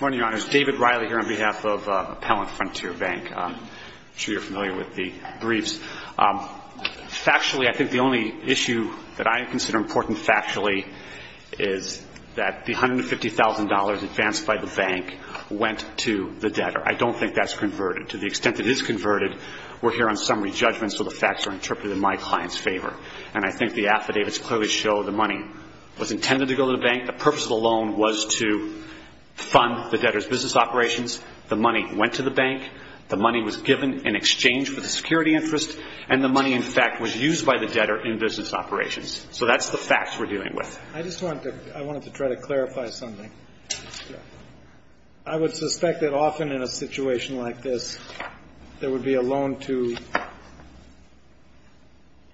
Morning, Your Honors. David Riley here on behalf of Appellant Frontier Bank. I'm sure you're familiar with the briefs. Factually, I think the only issue that I consider important factually is that the $150,000 advanced by the bank went to the debtor. I don't think that's converted. To the extent that it is converted, we're here on summary judgment, so the facts are interpreted in my client's favor. And I think the affidavits clearly show the money was intended to go to the bank. The purpose of the loan was to fund the debtor's business operations. The money went to the bank. The money was given in exchange for the security interest. And the money, in fact, was used by the debtor in business operations. So that's the facts we're dealing with. I just wanted to try to clarify something. I would suspect that often in a situation like this, there would be a loan to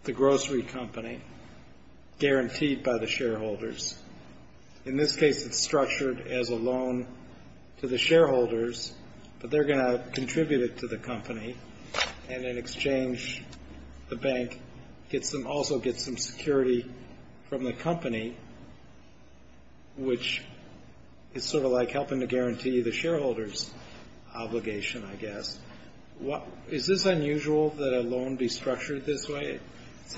the grocery company guaranteed by the shareholders. In this case, it's structured as a loan to the shareholders, but they're going to contribute it to the company. And in exchange, the bank also gets some security from the company, which is sort of like helping to guarantee the shareholders' obligation, I guess. Is this unusual that a loan be structured this way?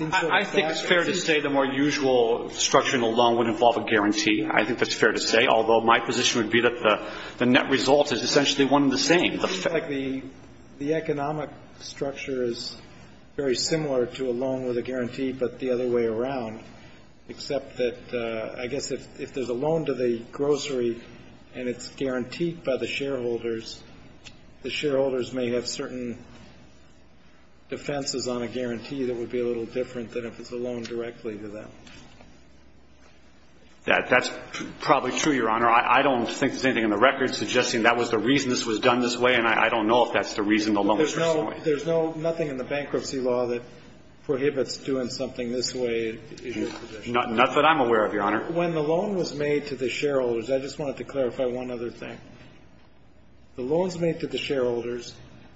I think it's fair to say the more usual structure in a loan would involve a guarantee. I think that's fair to say, although my position would be that the net result is essentially one and the same. It looks like the economic structure is very similar to a loan with a guarantee, but the other way around. Except that, I guess, if there's a loan to the grocery and it's guaranteed by the shareholders, the shareholders may have certain defenses on a guarantee that would be a little different than if it's a loan directly to them. That's probably true, Your Honor. I don't think there's anything in the record suggesting that was the reason this was done this way, and I don't know if that's the reason the loan was done this way. There's nothing in the bankruptcy law that prohibits doing something this way in your position. Not that I'm aware of, Your Honor. When the loan was made to the shareholders, I just wanted to clarify one other thing. The loan's made to the shareholders.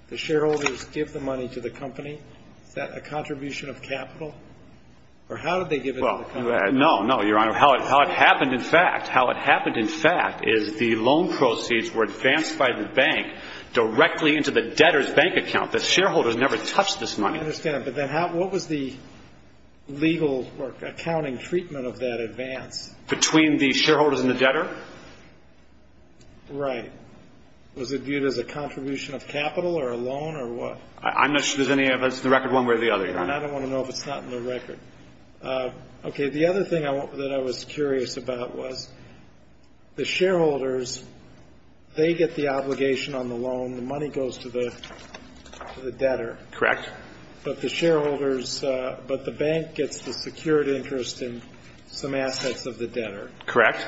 The shareholders give the money to the company. Is that a contribution of capital? Or how did they give it to the company? No, no, Your Honor. How it happened, in fact, is the loan proceeds were advanced by the bank directly into the debtor's bank account. The shareholders never touched this money. I understand, but then what was the legal accounting treatment of that advance? Between the shareholders and the debtor? Right. Was it viewed as a contribution of capital or a loan or what? I'm not sure there's any evidence of the record one way or the other, Your Honor. I don't want to know if it's not in the record. Okay. The other thing that I was curious about was the shareholders, they get the obligation on the loan. The money goes to the debtor. Correct. But the bank gets the secured interest in some assets of the debtor. Correct.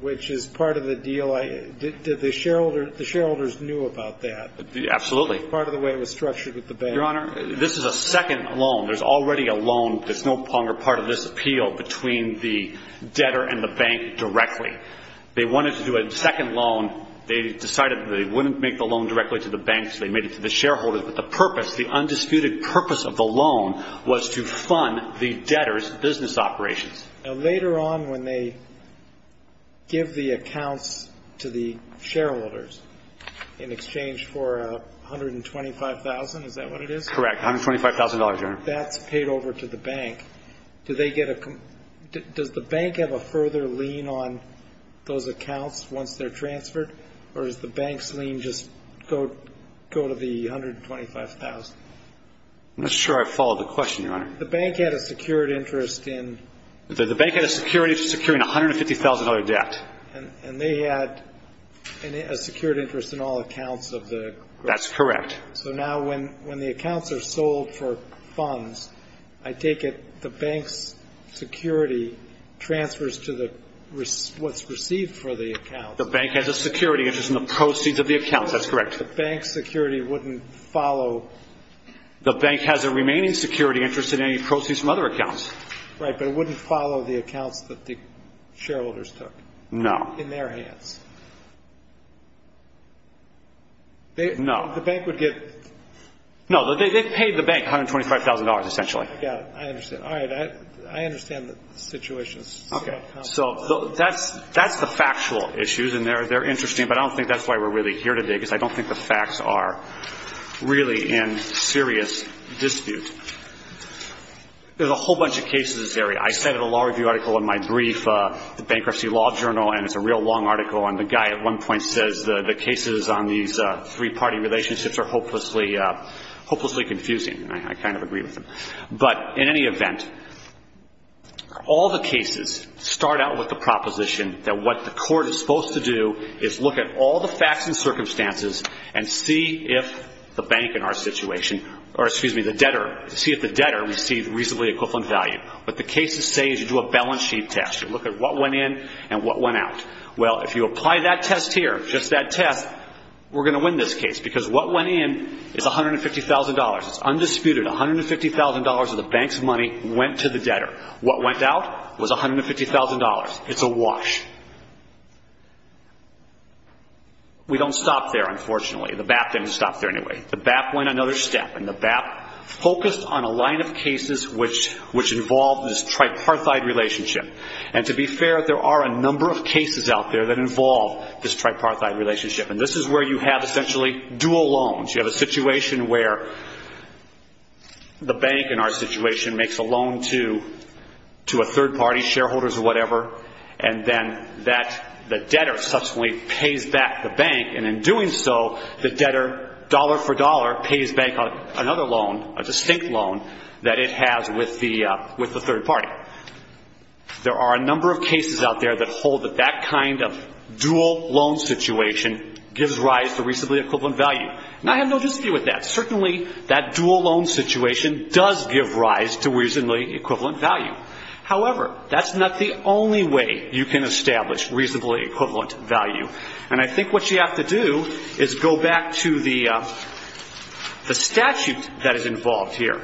Which is part of the deal. The shareholders knew about that. Absolutely. Part of the way it was structured with the bank. Your Honor, this is a second loan. There's already a loan that's no longer part of this appeal between the debtor and the bank directly. They wanted to do a second loan. They decided that they wouldn't make the loan directly to the banks. They made it to the shareholders. But the purpose, the undisputed purpose of the loan was to fund the debtor's business operations. Now, later on when they give the accounts to the shareholders in exchange for $125,000, is that what it is? Correct. $125,000, Your Honor. That's paid over to the bank. Does the bank have a further lien on those accounts once they're transferred? Or does the bank's lien just go to the $125,000? I'm not sure I followed the question, Your Honor. The bank had a secured interest in? The bank had a secured interest in securing a $150,000 debt. And they had a secured interest in all accounts of the? That's correct. So now when the accounts are sold for funds, I take it the bank's security transfers to what's received for the accounts? The bank has a security interest in the proceeds of the accounts. That's correct. The bank's security wouldn't follow? The bank has a remaining security interest in any proceeds from other accounts. Right. But it wouldn't follow the accounts that the shareholders took? No. In their hands? No. The bank would get? No. They paid the bank $125,000 essentially. I got it. I understand. All right. I understand the situation. Okay. So that's the factual issues, and they're interesting, but I don't think that's why we're really here today because I don't think the facts are really in serious dispute. There's a whole bunch of cases in this area. I cited a law review article in my brief, the Bankruptcy Law Journal, and it's a real long article. And the guy at one point says the cases on these three-party relationships are hopelessly confusing, and I kind of agree with him. But in any event, all the cases start out with the proposition that what the court is supposed to do is look at all the facts and circumstances and see if the debtor received reasonably equivalent value. What the cases say is you do a balance sheet test. You look at what went in and what went out. Well, if you apply that test here, just that test, we're going to win this case because what went in is $150,000. It's undisputed. $150,000 of the bank's money went to the debtor. What went out was $150,000. It's a wash. We don't stop there, unfortunately. The BAP didn't stop there anyway. The BAP went another step, and the BAP focused on a line of cases which involved this tripartite relationship. And to be fair, there are a number of cases out there that involve this tripartite relationship, and this is where you have essentially dual loans. You have a situation where the bank in our situation makes a loan to a third party, shareholders or whatever, and then the debtor subsequently pays back the bank, and in doing so, the debtor, dollar for dollar, pays back another loan, a distinct loan, that it has with the third party. There are a number of cases out there that hold that that kind of dual loan situation gives rise to reasonably equivalent value. And I have no dispute with that. Certainly, that dual loan situation does give rise to reasonably equivalent value. However, that's not the only way you can establish reasonably equivalent value, and I think what you have to do is go back to the statute that is involved here.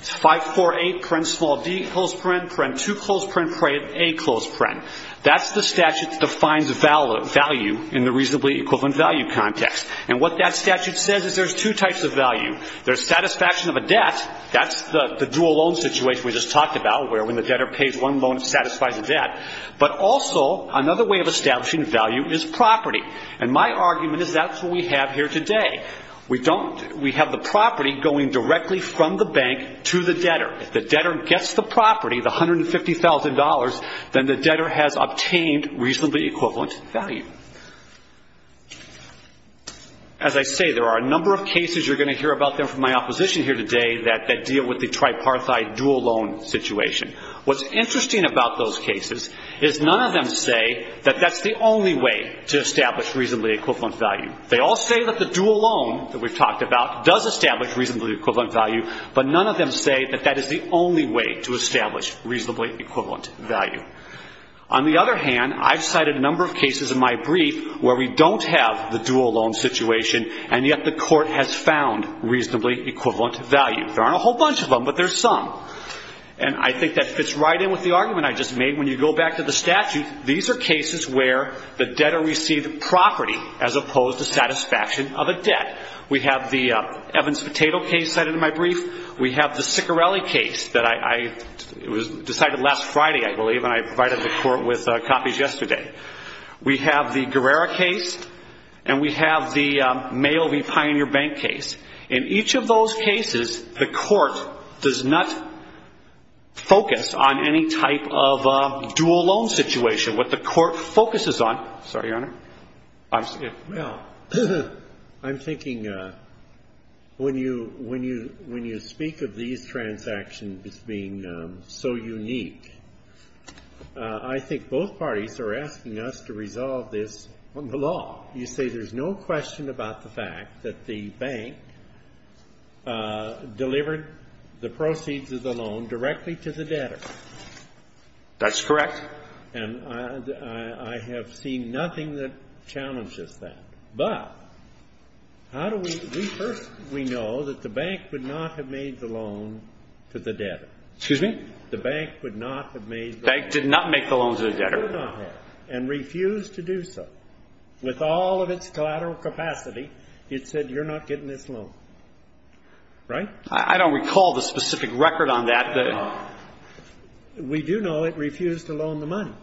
It's 548, parent small d, close parent, parent two, close parent, parent a, close parent. That's the statute that defines value in the reasonably equivalent value context. And what that statute says is there's two types of value. There's satisfaction of a debt. That's the dual loan situation we just talked about where when the debtor pays one loan, it satisfies the debt. But also, another way of establishing value is property, and my argument is that's what we have here today. We have the property going directly from the bank to the debtor. If the debtor gets the property, the $150,000, then the debtor has obtained reasonably equivalent value. As I say, there are a number of cases you're going to hear about from my opposition here today that deal with the tripartite dual loan situation. What's interesting about those cases is none of them say that that's the only way to establish reasonably equivalent value. They all say that the dual loan that we've talked about does establish reasonably equivalent value, but none of them say that that is the only way to establish reasonably equivalent value. On the other hand, I've cited a number of cases in my brief where we don't have the dual loan situation, and yet the court has found reasonably equivalent value. There aren't a whole bunch of them, but there's some, and I think that fits right in with the argument I just made. When you go back to the statute, these are cases where the debtor received property as opposed to satisfaction of a debt. We have the Evans Potato case cited in my brief. We have the Siccarelli case that I decided last Friday, I believe, and I provided the court with copies yesterday. We have the Guerrera case, and we have the Mail v. Pioneer Bank case. In each of those cases, the court does not focus on any type of dual loan situation. What the court focuses on ñ sorry, Your Honor. I'm sorry. Well, I'm thinking when you speak of these transactions as being so unique, I think both parties are asking us to resolve this on the law. You say there's no question about the fact that the bank delivered the proceeds of the loan directly to the debtor. That's correct. And I have seen nothing that challenges that. But how do we ñ first, we know that the bank would not have made the loan to the debtor. Excuse me? The bank would not have made the loan to the debtor. The bank did not make the loan to the debtor. It did not have, and refused to do so. With all of its collateral capacity, it said, you're not getting this loan. Right? I don't recall the specific record on that. We do know it refused to loan the money.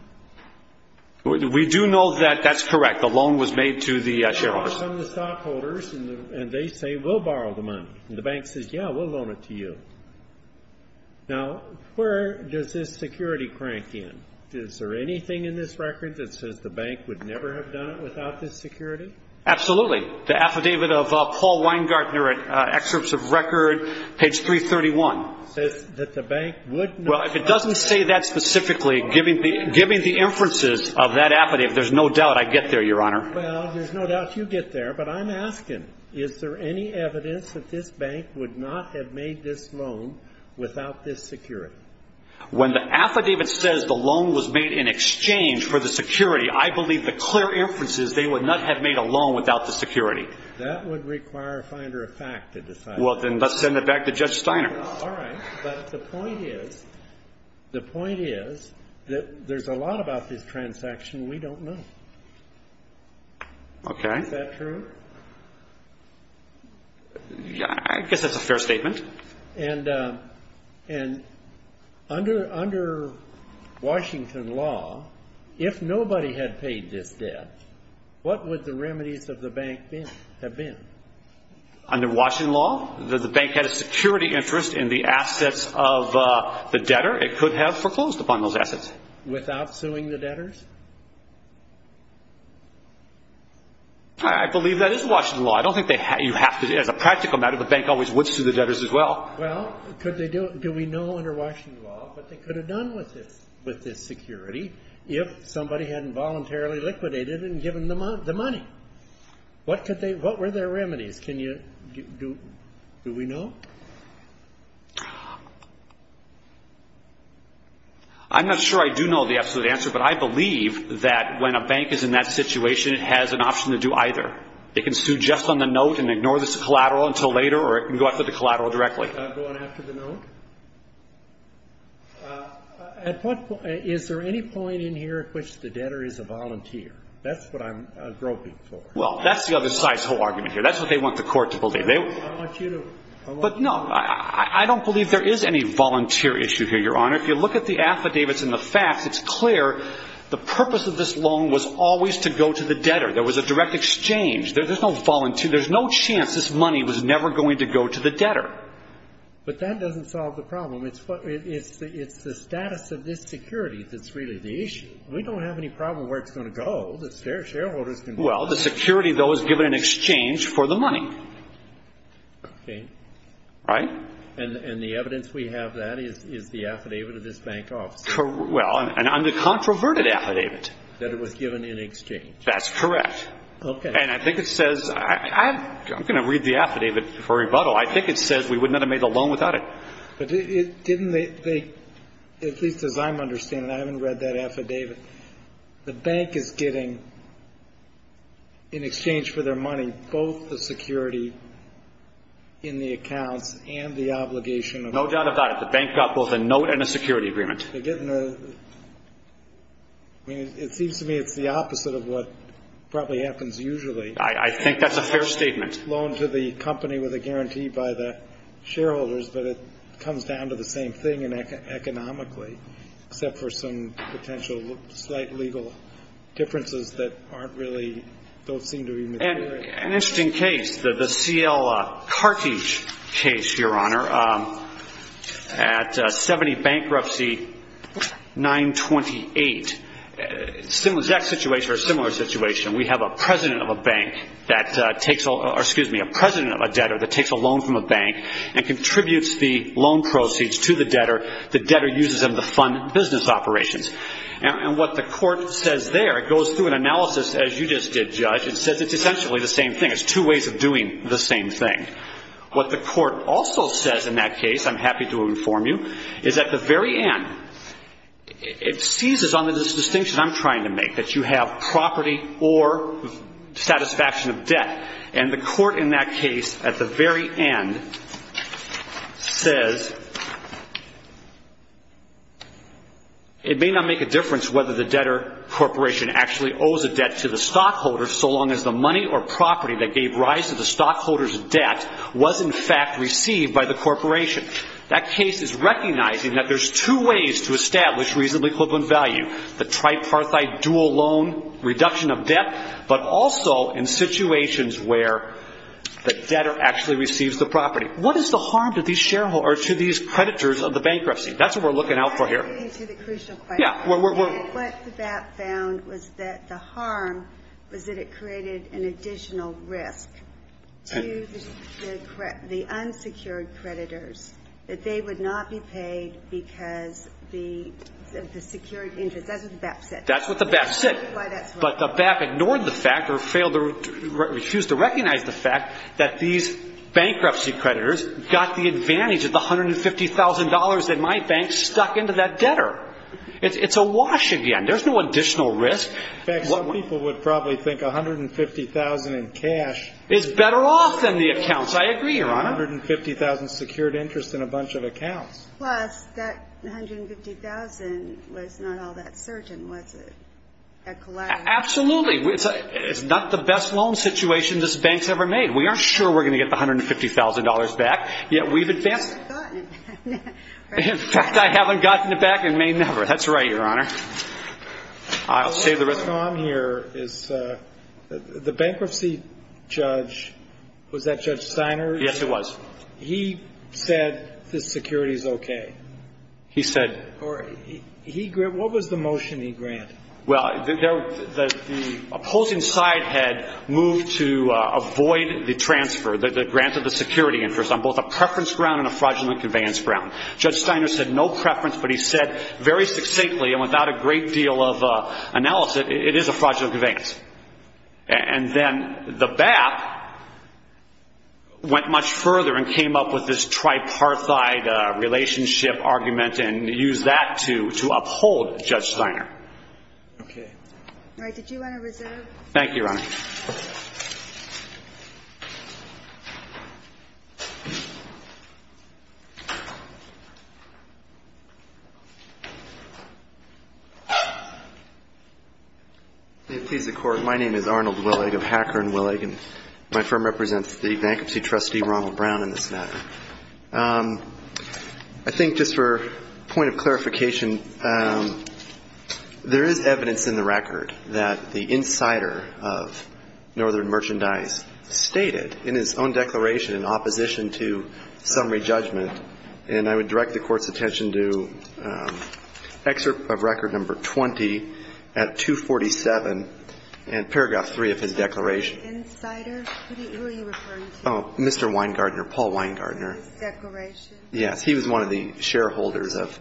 We do know that that's correct. The loan was made to the shareholders. And they say, we'll borrow the money. And the bank says, yeah, we'll loan it to you. Now, where does this security crank in? Is there anything in this record that says the bank would never have done it without this security? Absolutely. The affidavit of Paul Weingartner, excerpts of record, page 331. It says that the bank would not ñ Well, if it doesn't say that specifically, giving the inferences of that affidavit, there's no doubt I'd get there, Your Honor. Well, there's no doubt you'd get there. But I'm asking, is there any evidence that this bank would not have made this loan without this security? When the affidavit says the loan was made in exchange for the security, I believe the clear inference is they would not have made a loan without the security. That would require a finder of fact to decide. Well, then let's send it back to Judge Steiner. All right. But the point is, the point is that there's a lot about this transaction we don't know. Okay. Is that true? I guess that's a fair statement. And under Washington law, if nobody had paid this debt, what would the remedies of the bank have been? Under Washington law, the bank had a security interest in the assets of the debtor. It could have foreclosed upon those assets. Without suing the debtors? I believe that is Washington law. I don't think you have to ñ as a practical matter, the bank always would sue the debtors as well. Well, could they do ñ do we know under Washington law what they could have done with this security if somebody hadn't voluntarily liquidated it and given them the money? What could they ñ what were their remedies? Can you ñ do we know? I'm not sure I do know the absolute answer, but I believe that when a bank is in that situation, it has an option to do either. It can sue just on the note and ignore this collateral until later, or it can go after the collateral directly. Go on after the note? At what point ñ is there any point in here at which the debtor is a volunteer? That's what I'm groping for. Well, that's the other side's whole argument here. That's what they want the court to believe. I want you to ñ But no, I don't believe there is any volunteer issue here, Your Honor. If you look at the affidavits and the facts, it's clear the purpose of this loan was always to go to the debtor. There was a direct exchange. There's no volunteer ñ there's no chance this money was never going to go to the debtor. But that doesn't solve the problem. It's the status of this security that's really the issue. We don't have any problem where it's going to go. The shareholders can ñ Well, the security, though, is given in exchange for the money. Okay. Right? And the evidence we have of that is the affidavit of this bank office. Well, and on the controverted affidavit. That it was given in exchange. That's correct. Okay. And I think it says ñ I'm going to read the affidavit for rebuttal. I think it says we would not have made a loan without it. But didn't they ñ at least as I'm understanding, I haven't read that affidavit. The bank is getting, in exchange for their money, both the security in the accounts and the obligation of ñ No doubt about it. The bank got both a note and a security agreement. They're getting a ñ I mean, it seems to me it's the opposite of what probably happens usually. I think that's a fair statement. It's a great loan to the company with a guarantee by the shareholders, but it comes down to the same thing economically, except for some potential slight legal differences that aren't really ñ don't seem to be material. An interesting case, the C.L. Carthage case, Your Honor, at 70 Bankruptcy 928. Similar exact situation or similar situation. We have a president of a bank that takes ñ or excuse me, a president of a debtor that takes a loan from a bank and contributes the loan proceeds to the debtor. The debtor uses them to fund business operations. And what the court says there, it goes through an analysis, as you just did, Judge, and says it's essentially the same thing. It's two ways of doing the same thing. What the court also says in that case, I'm happy to inform you, is at the very end it seizes on this distinction I'm trying to make, that you have property or satisfaction of debt. And the court in that case at the very end says it may not make a difference whether the debtor corporation actually owes a debt to the stockholder so long as the money or property that gave rise to the stockholder's debt was in fact received by the corporation. That case is recognizing that there's two ways to establish reasonably equivalent value, the tripartite dual loan reduction of debt, but also in situations where the debtor actually receives the property. What is the harm to these shareholders or to these creditors of the bankruptcy? That's what we're looking out for here. What the BAP found was that the harm was that it created an additional risk to the unsecured creditors that they would not be paid because the secured interest. That's what the BAP said. That's what the BAP said. But the BAP ignored the fact or refused to recognize the fact that these bankruptcy creditors got the advantage of the $150,000 that my bank stuck into that debtor. It's a wash again. There's no additional risk. In fact, some people would probably think $150,000 in cash is better off than the accounts. I agree, Your Honor. $150,000 secured interest in a bunch of accounts. Plus, that $150,000 was not all that certain, was it? Absolutely. It's not the best loan situation this bank's ever made. We aren't sure we're going to get the $150,000 back, yet we've advanced it. In fact, I haven't gotten it back and may never. That's right, Your Honor. I'll save the risk. The problem here is the bankruptcy judge, was that Judge Steiner? Yes, it was. He said this security is okay. He said. What was the motion he granted? The opposing side had moved to avoid the transfer. They granted the security interest on both a preference ground and a fraudulent conveyance ground. Judge Steiner said no preference, but he said very succinctly and without a great deal of analysis, it is a fraudulent conveyance. And then the BAP went much further and came up with this tripartite relationship argument and used that to uphold Judge Steiner. Okay. All right. Thank you, Your Honor. May it please the Court, my name is Arnold Willig of Hacker & Willig, and my firm represents the bankruptcy trustee, Ronald Brown, in this matter. I think just for a point of clarification, there is evidence in the record that the insider of Hacker & Willig, Northern Merchandise, stated in his own declaration in opposition to summary judgment, and I would direct the Court's attention to excerpt of record number 20 at 247 and paragraph 3 of his declaration. Insider? Who are you referring to? Mr. Weingartner, Paul Weingartner. His declaration? Yes. He was one of the shareholders of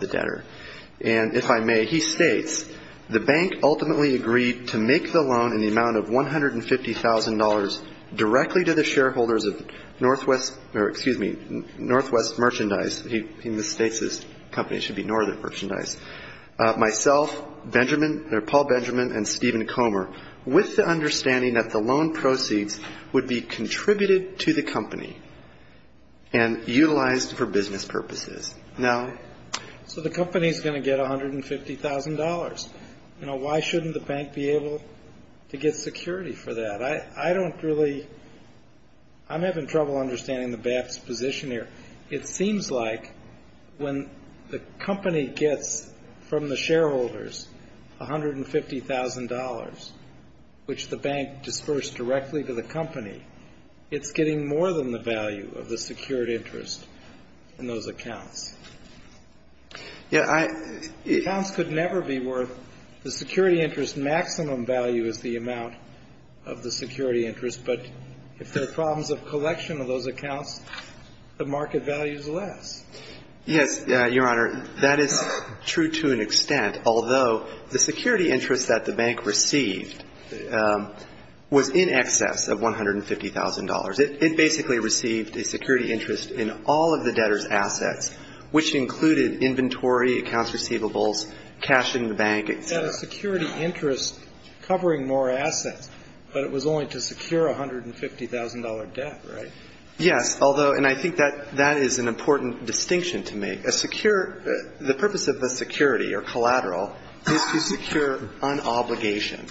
the debtor. And if I may, he states, the bank ultimately agreed to make the loan in the amount of $150,000 directly to the shareholders of Northwest, or excuse me, Northwest Merchandise. He states this company should be Northern Merchandise. Myself, Benjamin, or Paul Benjamin and Stephen Comer, with the understanding that the loan proceeds would be contributed to the company and utilized for business purposes. Now? So the company is going to get $150,000. You know, why shouldn't the bank be able to get security for that? I don't really, I'm having trouble understanding the bank's position here. It seems like when the company gets from the shareholders $150,000, which the bank disbursed directly to the company, it's getting more than the value of the secured interest in those accounts. Yeah, I. Accounts could never be worth, the security interest maximum value is the amount of the security interest, but if there are problems of collection of those accounts, the market value is less. Yes, Your Honor, that is true to an extent, although the security interest that the bank received was in excess of $150,000. It basically received a security interest in all of the debtor's assets, which included inventory, accounts receivables, cash in the bank, et cetera. It had a security interest covering more assets, but it was only to secure a $150,000 debt, right? Yes, although, and I think that that is an important distinction to make. The purpose of the security or collateral is to secure an obligation,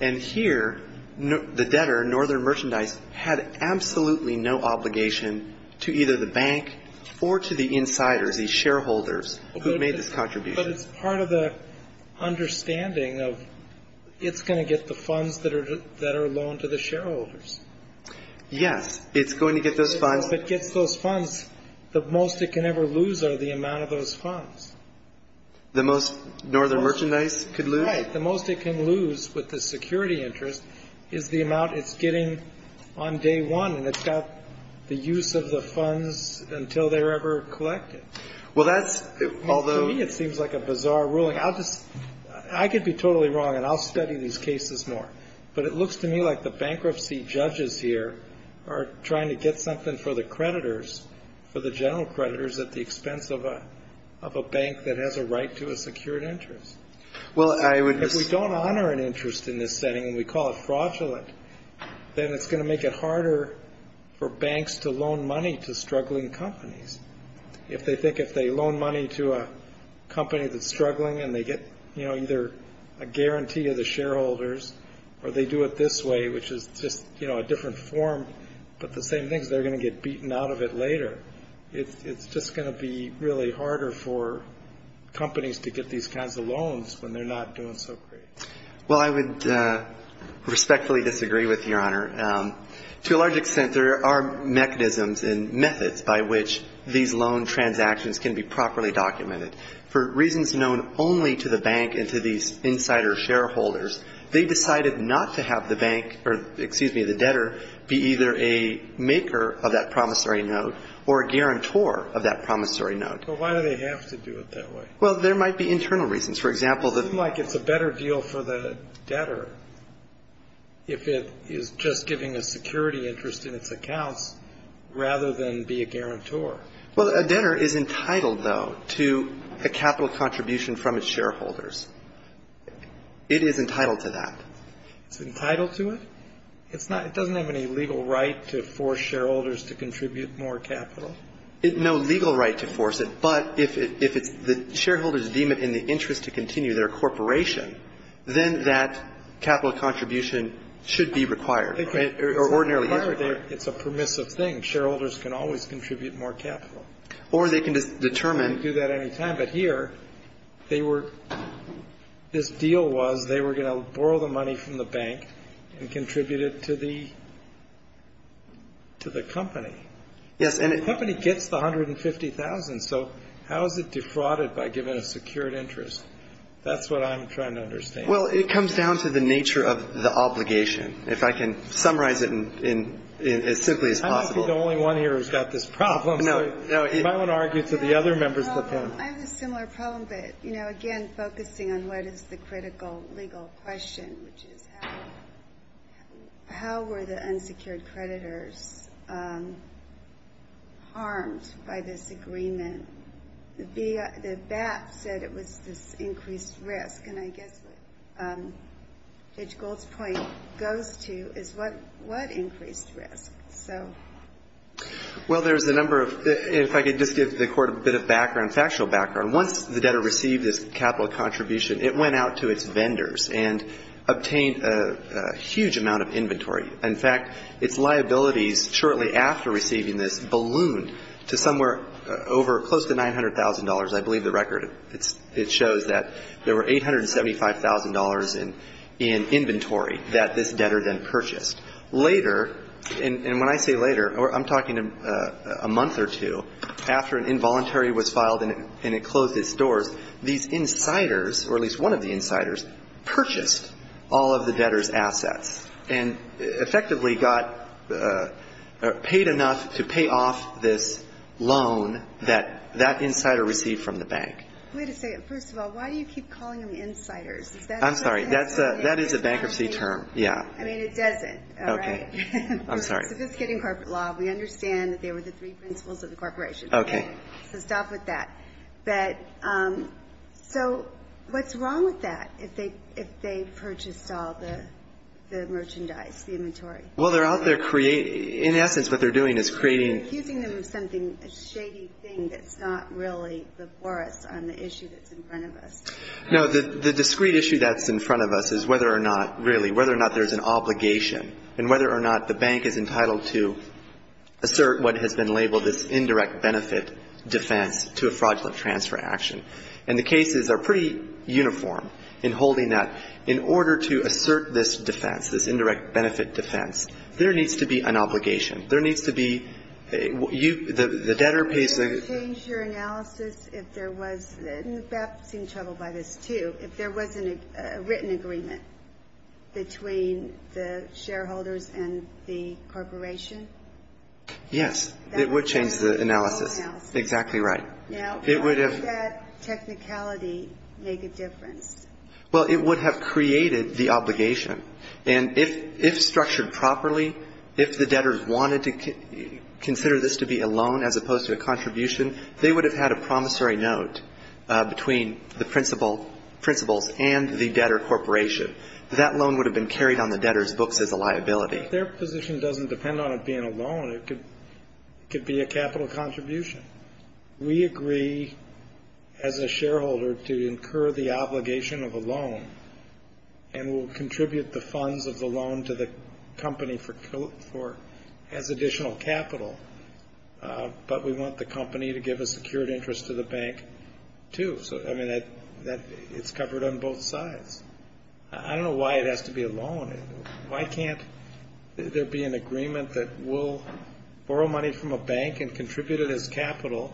and here the debtor, Northern Merchandise, had absolutely no obligation to either the bank or to the insiders, these shareholders who made this contribution. But it's part of the understanding of it's going to get the funds that are loaned to the shareholders. Yes, it's going to get those funds. If it gets those funds, the most it can ever lose are the amount of those funds. The most Northern Merchandise could lose? Right. The most it can lose with the security interest is the amount it's getting on day one, and it's got the use of the funds until they're ever collected. Well, that's, although. To me, it seems like a bizarre ruling. I could be totally wrong, and I'll study these cases more, but it looks to me like the bankruptcy judges here are trying to get something for the creditors, for the general creditors at the expense of a bank that has a right to a secured interest. If we don't honor an interest in this setting, and we call it fraudulent, then it's going to make it harder for banks to loan money to struggling companies. If they think if they loan money to a company that's struggling and they get either a guarantee of the shareholders or they do it this way, which is just a different form, but the same thing is they're going to get beaten out of it later. It's just going to be really harder for companies to get these kinds of loans when they're not doing so great. Well, I would respectfully disagree with you, Your Honor. To a large extent, there are mechanisms and methods by which these loan transactions can be properly documented. For reasons known only to the bank and to these insider shareholders, they decided not to have the bank or, excuse me, the debtor be either a maker of that promissory note or a guarantor of that promissory note. But why do they have to do it that way? Well, there might be internal reasons. For example, the ---- It seems like it's a better deal for the debtor if it is just giving a security interest in its accounts rather than be a guarantor. Well, a debtor is entitled, though, to a capital contribution from its shareholders. It is entitled to that. It's entitled to it? It's not ---- it doesn't have any legal right to force shareholders to contribute more capital? No legal right to force it. But if it's ---- the shareholders deem it in the interest to continue their corporation, then that capital contribution should be required or ordinarily is required. It's a permissive thing. Shareholders can always contribute more capital. Or they can determine ---- They can do that any time. But here they were ---- this deal was they were going to borrow the money from the bank and contribute it to the company. Yes, and it ---- The company gets the $150,000. So how is it defrauded by giving a secured interest? That's what I'm trying to understand. Well, it comes down to the nature of the obligation, if I can summarize it as simply as possible. I don't think the only one here has got this problem. No, no. You might want to argue to the other members of the panel. I have a similar problem, but, you know, again, focusing on what is the critical legal question, which is how were the unsecured creditors harmed by this agreement? The BAP said it was this increased risk, and I guess what Judge Gold's point goes to is what increased risk? Well, there's a number of ---- if I could just give the Court a bit of background, factual background. Once the debtor received his capital contribution, it went out to its vendors and obtained a huge amount of inventory. In fact, its liabilities shortly after receiving this ballooned to somewhere over close to $900,000. I believe the record, it shows that there were $875,000 in inventory that this debtor then purchased. Later, and when I say later, I'm talking a month or two after an involuntary was filed and it closed its doors, these insiders, or at least one of the insiders, purchased all of the debtor's assets and effectively got paid enough to pay off this loan that that insider received from the bank. Wait a second. First of all, why do you keep calling them insiders? I'm sorry. That is a bankruptcy term. Yeah. I mean, it doesn't, all right? Okay. I'm sorry. So this is getting corporate law. We understand that they were the three principles of the corporation. Okay. So stop with that. But so what's wrong with that if they purchased all the merchandise, the inventory? Well, they're out there creating ---- in essence, what they're doing is creating ---- You're accusing them of something, a shady thing that's not really before us on the issue that's in front of us. No. The discrete issue that's in front of us is whether or not, really, whether or not there's an obligation and whether or not the bank is entitled to assert what has been labeled this indirect benefit defense to a fraudulent transfer action. And the cases are pretty uniform in holding that. In order to assert this defense, this indirect benefit defense, there needs to be an obligation. There needs to be ---- The debtor pays the ---- Would it change your analysis if there was ---- and Beth is in trouble by this, too. If there was a written agreement between the shareholders and the corporation? Yes. It would change the analysis. Exactly right. Now, would that technicality make a difference? Well, it would have created the obligation. And if structured properly, if the debtors wanted to consider this to be a loan as opposed to a contribution, they would have had a promissory note between the principals and the debtor corporation. That loan would have been carried on the debtor's books as a liability. If their position doesn't depend on it being a loan, it could be a capital contribution. We agree as a shareholder to incur the obligation of a loan and will contribute the funds of the loan to the company as additional capital. But we want the company to give a secured interest to the bank, too. So, I mean, it's covered on both sides. I don't know why it has to be a loan. Why can't there be an agreement that we'll borrow money from a bank and contribute it as capital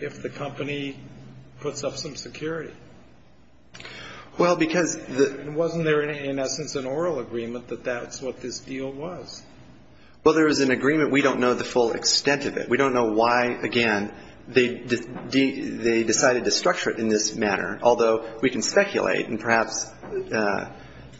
if the company puts up some security? Well, because the — Wasn't there, in essence, an oral agreement that that's what this deal was? Well, there is an agreement. We don't know the full extent of it. We don't know why, again, they decided to structure it in this manner, although we can speculate, and perhaps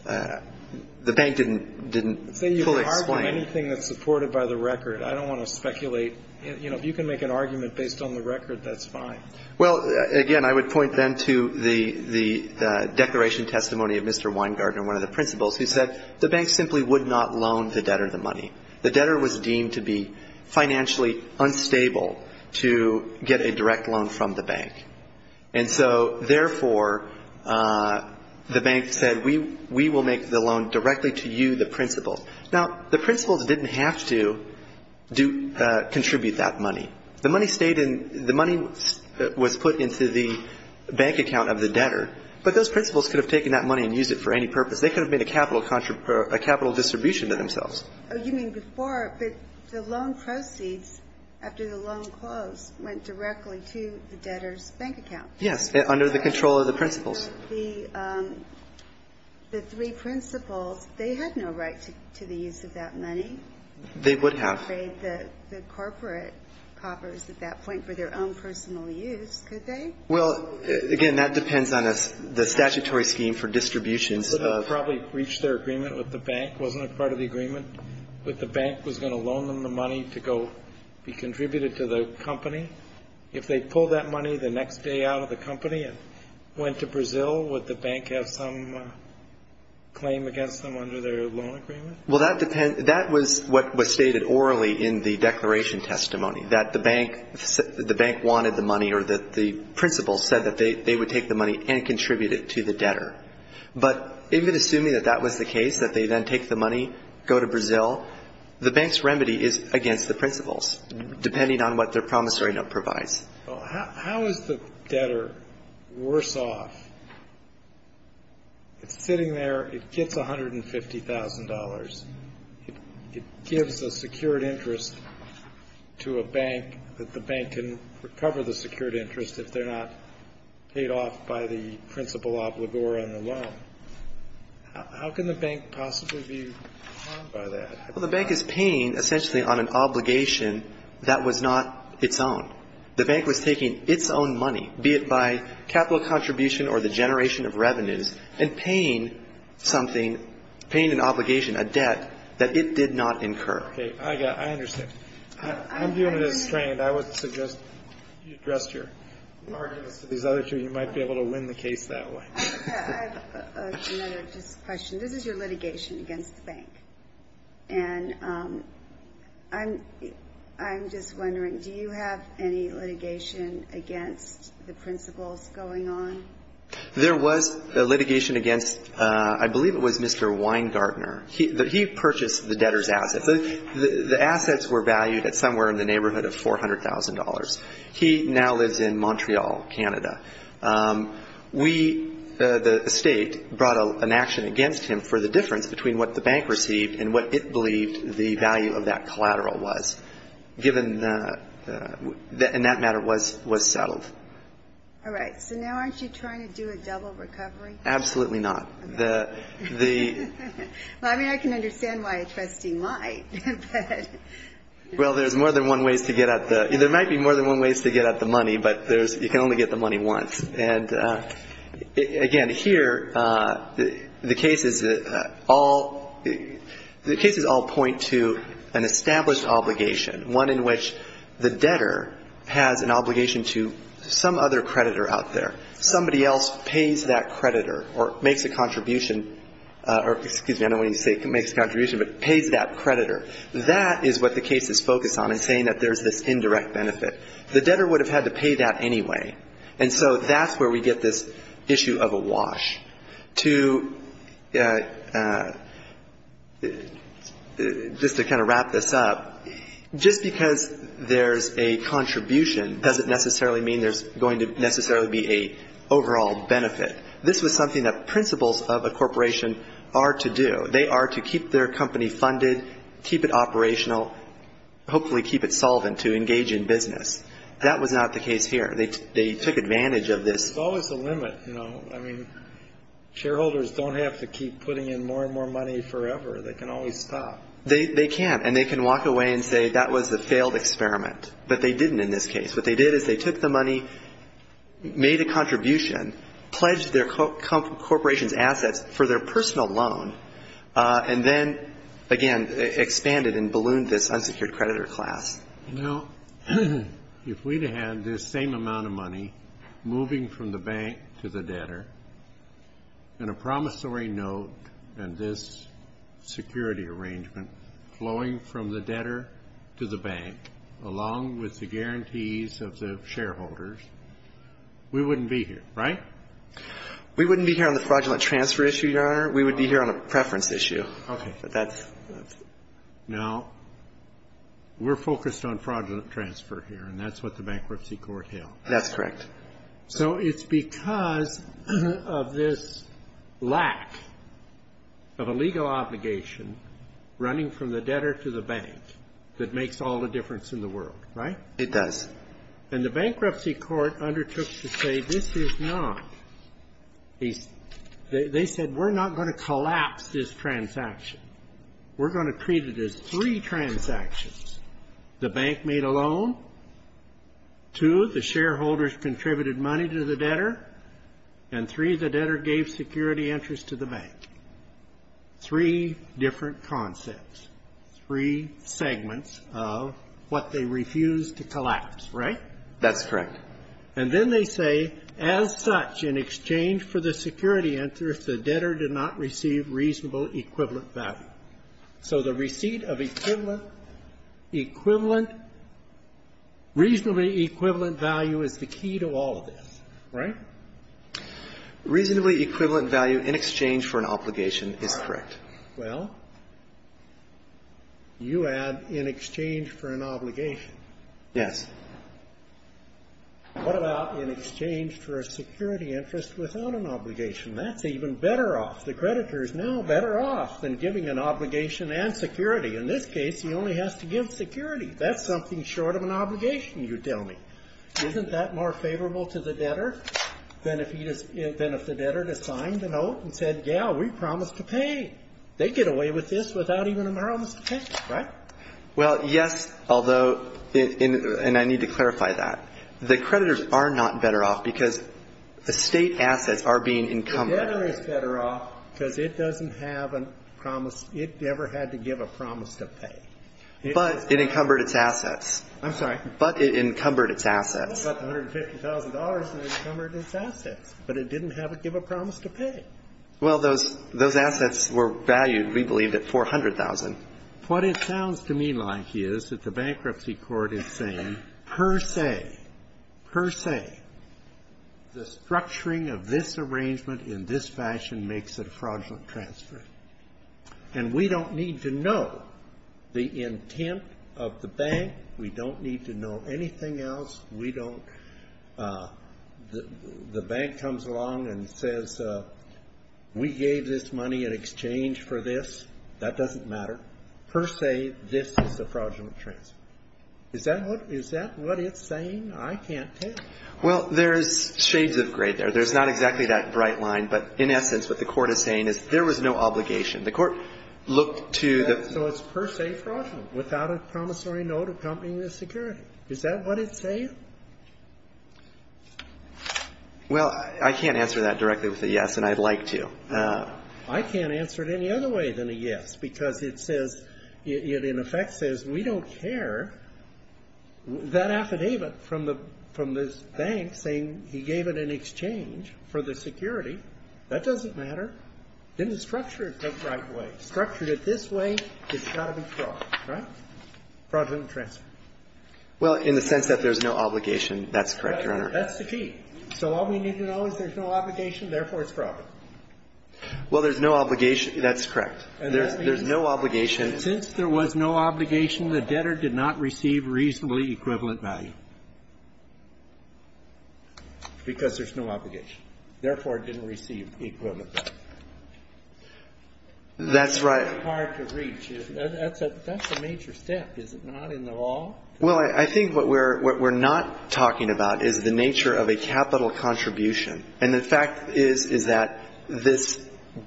the bank didn't fully explain it. Say you can argue anything that's supported by the record. I don't want to speculate. You know, if you can make an argument based on the record, that's fine. Well, again, I would point then to the declaration testimony of Mr. Weingarten, one of the principals, who said the bank simply would not loan the debtor the money. The debtor was deemed to be financially unstable to get a direct loan from the bank. And so, therefore, the bank said, we will make the loan directly to you, the principal. Now, the principal didn't have to contribute that money. The money stayed in — the money was put into the bank account of the debtor, but those principals could have taken that money and used it for any purpose. They could have made a capital distribution to themselves. Oh, you mean before, but the loan proceeds after the loan closed went directly to the debtor's bank account. Yes, under the control of the principals. The three principals, they had no right to the use of that money. They would have. They could have paid the corporate coppers at that point for their own personal use, could they? Well, again, that depends on the statutory scheme for distributions of — The principal probably reached their agreement with the bank, wasn't a part of the agreement with the bank, was going to loan them the money to go be contributed to the company. If they pulled that money the next day out of the company and went to Brazil, would the bank have some claim against them under their loan agreement? Well, that depends — that was what was stated orally in the declaration testimony, that the bank wanted the money or that the principal said that they would take the money and contribute it to the debtor. But even assuming that that was the case, that they then take the money, go to Brazil, the bank's remedy is against the principals, depending on what their promissory note provides. Well, how is the debtor worse off? It's sitting there. It gets $150,000. It gives a secured interest to a bank that the bank can recover the secured interest if they're not paid off by the principal obligor on the loan. How can the bank possibly be harmed by that? Well, the bank is paying essentially on an obligation that was not its own. The bank was taking its own money, be it by capital contribution or the generation of revenues, and paying something, paying an obligation, a debt, that it did not incur. Okay. I got it. I understand. Okay. I'm viewing it as strained. I would suggest you address your arguments to these other two. You might be able to win the case that way. I have another just question. This is your litigation against the bank. And I'm just wondering, do you have any litigation against the principals going on? There was a litigation against, I believe it was Mr. Weingartner. He purchased the debtor's assets. The assets were valued at somewhere in the neighborhood of $400,000. He now lives in Montreal, Canada. We, the state, brought an action against him for the difference between what the bank received and what it believed the value of that collateral was, and that matter was settled. All right. So now aren't you trying to do a double recovery? Absolutely not. Well, I mean, I can understand why a trustee might, but no. Well, there's more than one ways to get at the ‑‑ there might be more than one ways to get at the money, but you can only get the money once. And, again, here the cases all point to an established obligation, one in which the debtor has an obligation to some other creditor out there. Somebody else pays that creditor or makes a contribution, or, excuse me, I don't know what you say, makes a contribution, but pays that creditor. That is what the case is focused on in saying that there's this indirect benefit. The debtor would have had to pay that anyway. And so that's where we get this issue of a wash. To just to kind of wrap this up, just because there's a contribution doesn't necessarily mean there's going to necessarily be an overall benefit. This was something that principles of a corporation are to do. They are to keep their company funded, keep it operational, hopefully keep it solvent to engage in business. That was not the case here. They took advantage of this. There's always a limit, you know. I mean, shareholders don't have to keep putting in more and more money forever. They can always stop. They can. And they can walk away and say that was a failed experiment. But they didn't in this case. What they did is they took the money, made a contribution, pledged their corporation's assets for their personal loan, and then, again, expanded and ballooned this unsecured creditor class. Now, if we'd had this same amount of money moving from the bank to the debtor, and a promissory note and this security arrangement flowing from the debtor to the bank, along with the guarantees of the shareholders, we wouldn't be here, right? We wouldn't be here on the fraudulent transfer issue, Your Honor. We would be here on a preference issue. Okay. Now, we're focused on fraudulent transfer here, and that's what the bankruptcy court held. That's correct. So it's because of this lack of a legal obligation running from the debtor to the bank that makes all the difference in the world, right? It does. And the bankruptcy court undertook to say this is not. They said we're not going to collapse this transaction. We're going to treat it as three transactions, the bank made a loan, two, the shareholders contributed money to the debtor, and three, the debtor gave security interest to the bank. Three different concepts, three segments of what they refused to collapse, right? That's correct. And then they say, as such, in exchange for the security interest, the debtor did not receive reasonable equivalent value. So the receipt of equivalent, reasonably equivalent value is the key to all of this, right? Reasonably equivalent value in exchange for an obligation is correct. Well, you add in exchange for an obligation. Yes. What about in exchange for a security interest without an obligation? That's even better off. The creditor is now better off than giving an obligation and security. In this case, he only has to give security. That's something short of an obligation, you tell me. Isn't that more favorable to the debtor than if the debtor had signed the note and said, yeah, we promised to pay? They'd get away with this without even a promise to pay, right? Well, yes, although, and I need to clarify that. The creditors are not better off because the state assets are being encumbered. The debtor is better off because it doesn't have a promise. It never had to give a promise to pay. But it encumbered its assets. I'm sorry? But it encumbered its assets. But $150,000 encumbered its assets. But it didn't have to give a promise to pay. Well, those assets were valued, we believe, at $400,000. What it sounds to me like is that the bankruptcy court is saying, per se, per se, the structuring of this arrangement in this fashion makes it a fraudulent transfer. And we don't need to know the intent of the bank. We don't need to know anything else. We don't. The bank comes along and says, we gave this money in exchange for this. That doesn't matter. Per se, this is a fraudulent transfer. Is that what it's saying? I can't tell. Well, there's shades of gray there. There's not exactly that bright line. But, in essence, what the court is saying is there was no obligation. The court looked to the... Is that what it's saying? Well, I can't answer that directly with a yes, and I'd like to. I can't answer it any other way than a yes. Because it says, it in effect says, we don't care. That affidavit from the bank saying he gave it in exchange for the security, that doesn't matter. It didn't structure it the right way. Structured it this way, it's got to be fraud, right? Fraudulent transfer. Well, in the sense that there's no obligation, that's correct, Your Honor. That's the key. So all we need to know is there's no obligation, therefore it's fraudulent. Well, there's no obligation. That's correct. And that means... There's no obligation. Since there was no obligation, the debtor did not receive reasonably equivalent value. Because there's no obligation. Therefore, it didn't receive equivalent value. That's right. That's a major step, is it not, in the law? Well, I think what we're not talking about is the nature of a capital contribution. And the fact is, is that this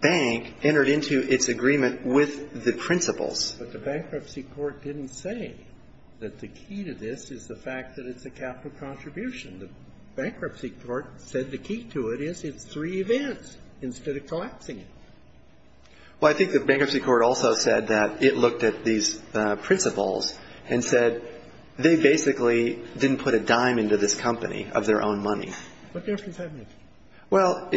bank entered into its agreement with the principles. But the bankruptcy court didn't say that the key to this is the fact that it's a capital contribution. The bankruptcy court said the key to it is it's three events instead of collapsing it. Well, I think the bankruptcy court also said that it looked at these principles and said they basically didn't put a dime into this company of their own money. What do you have to say on this? Well,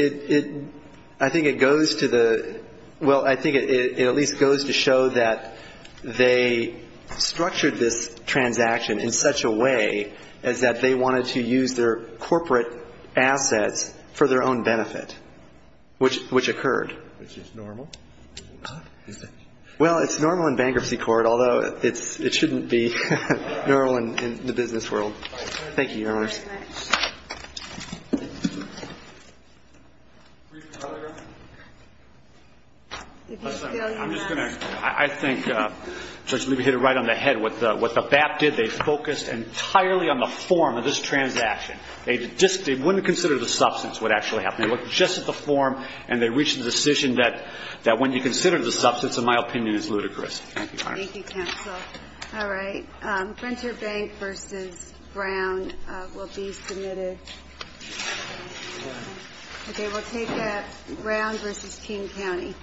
I think it goes to the... Well, I think it at least goes to show that they structured this transaction in such a way as that they wanted to use their corporate assets for their own benefit, which occurred. Which is normal, is it? Well, it's normal in bankruptcy court, although it shouldn't be normal in the business world. Thank you, Your Honors. Thank you very much. Brief telegraph? I'm just going to... I think Judge Levy hit it right on the head with what the BAP did. They focused entirely on the form of this transaction. They wouldn't have considered the substance of what actually happened. They looked just at the form, and they reached the decision that when you consider the substance, in my opinion, it's ludicrous. Thank you, Your Honors. Thank you, Counsel. All right. Venture Bank v. Brown will be submitted. Okay, we'll take that. Brown v. King County.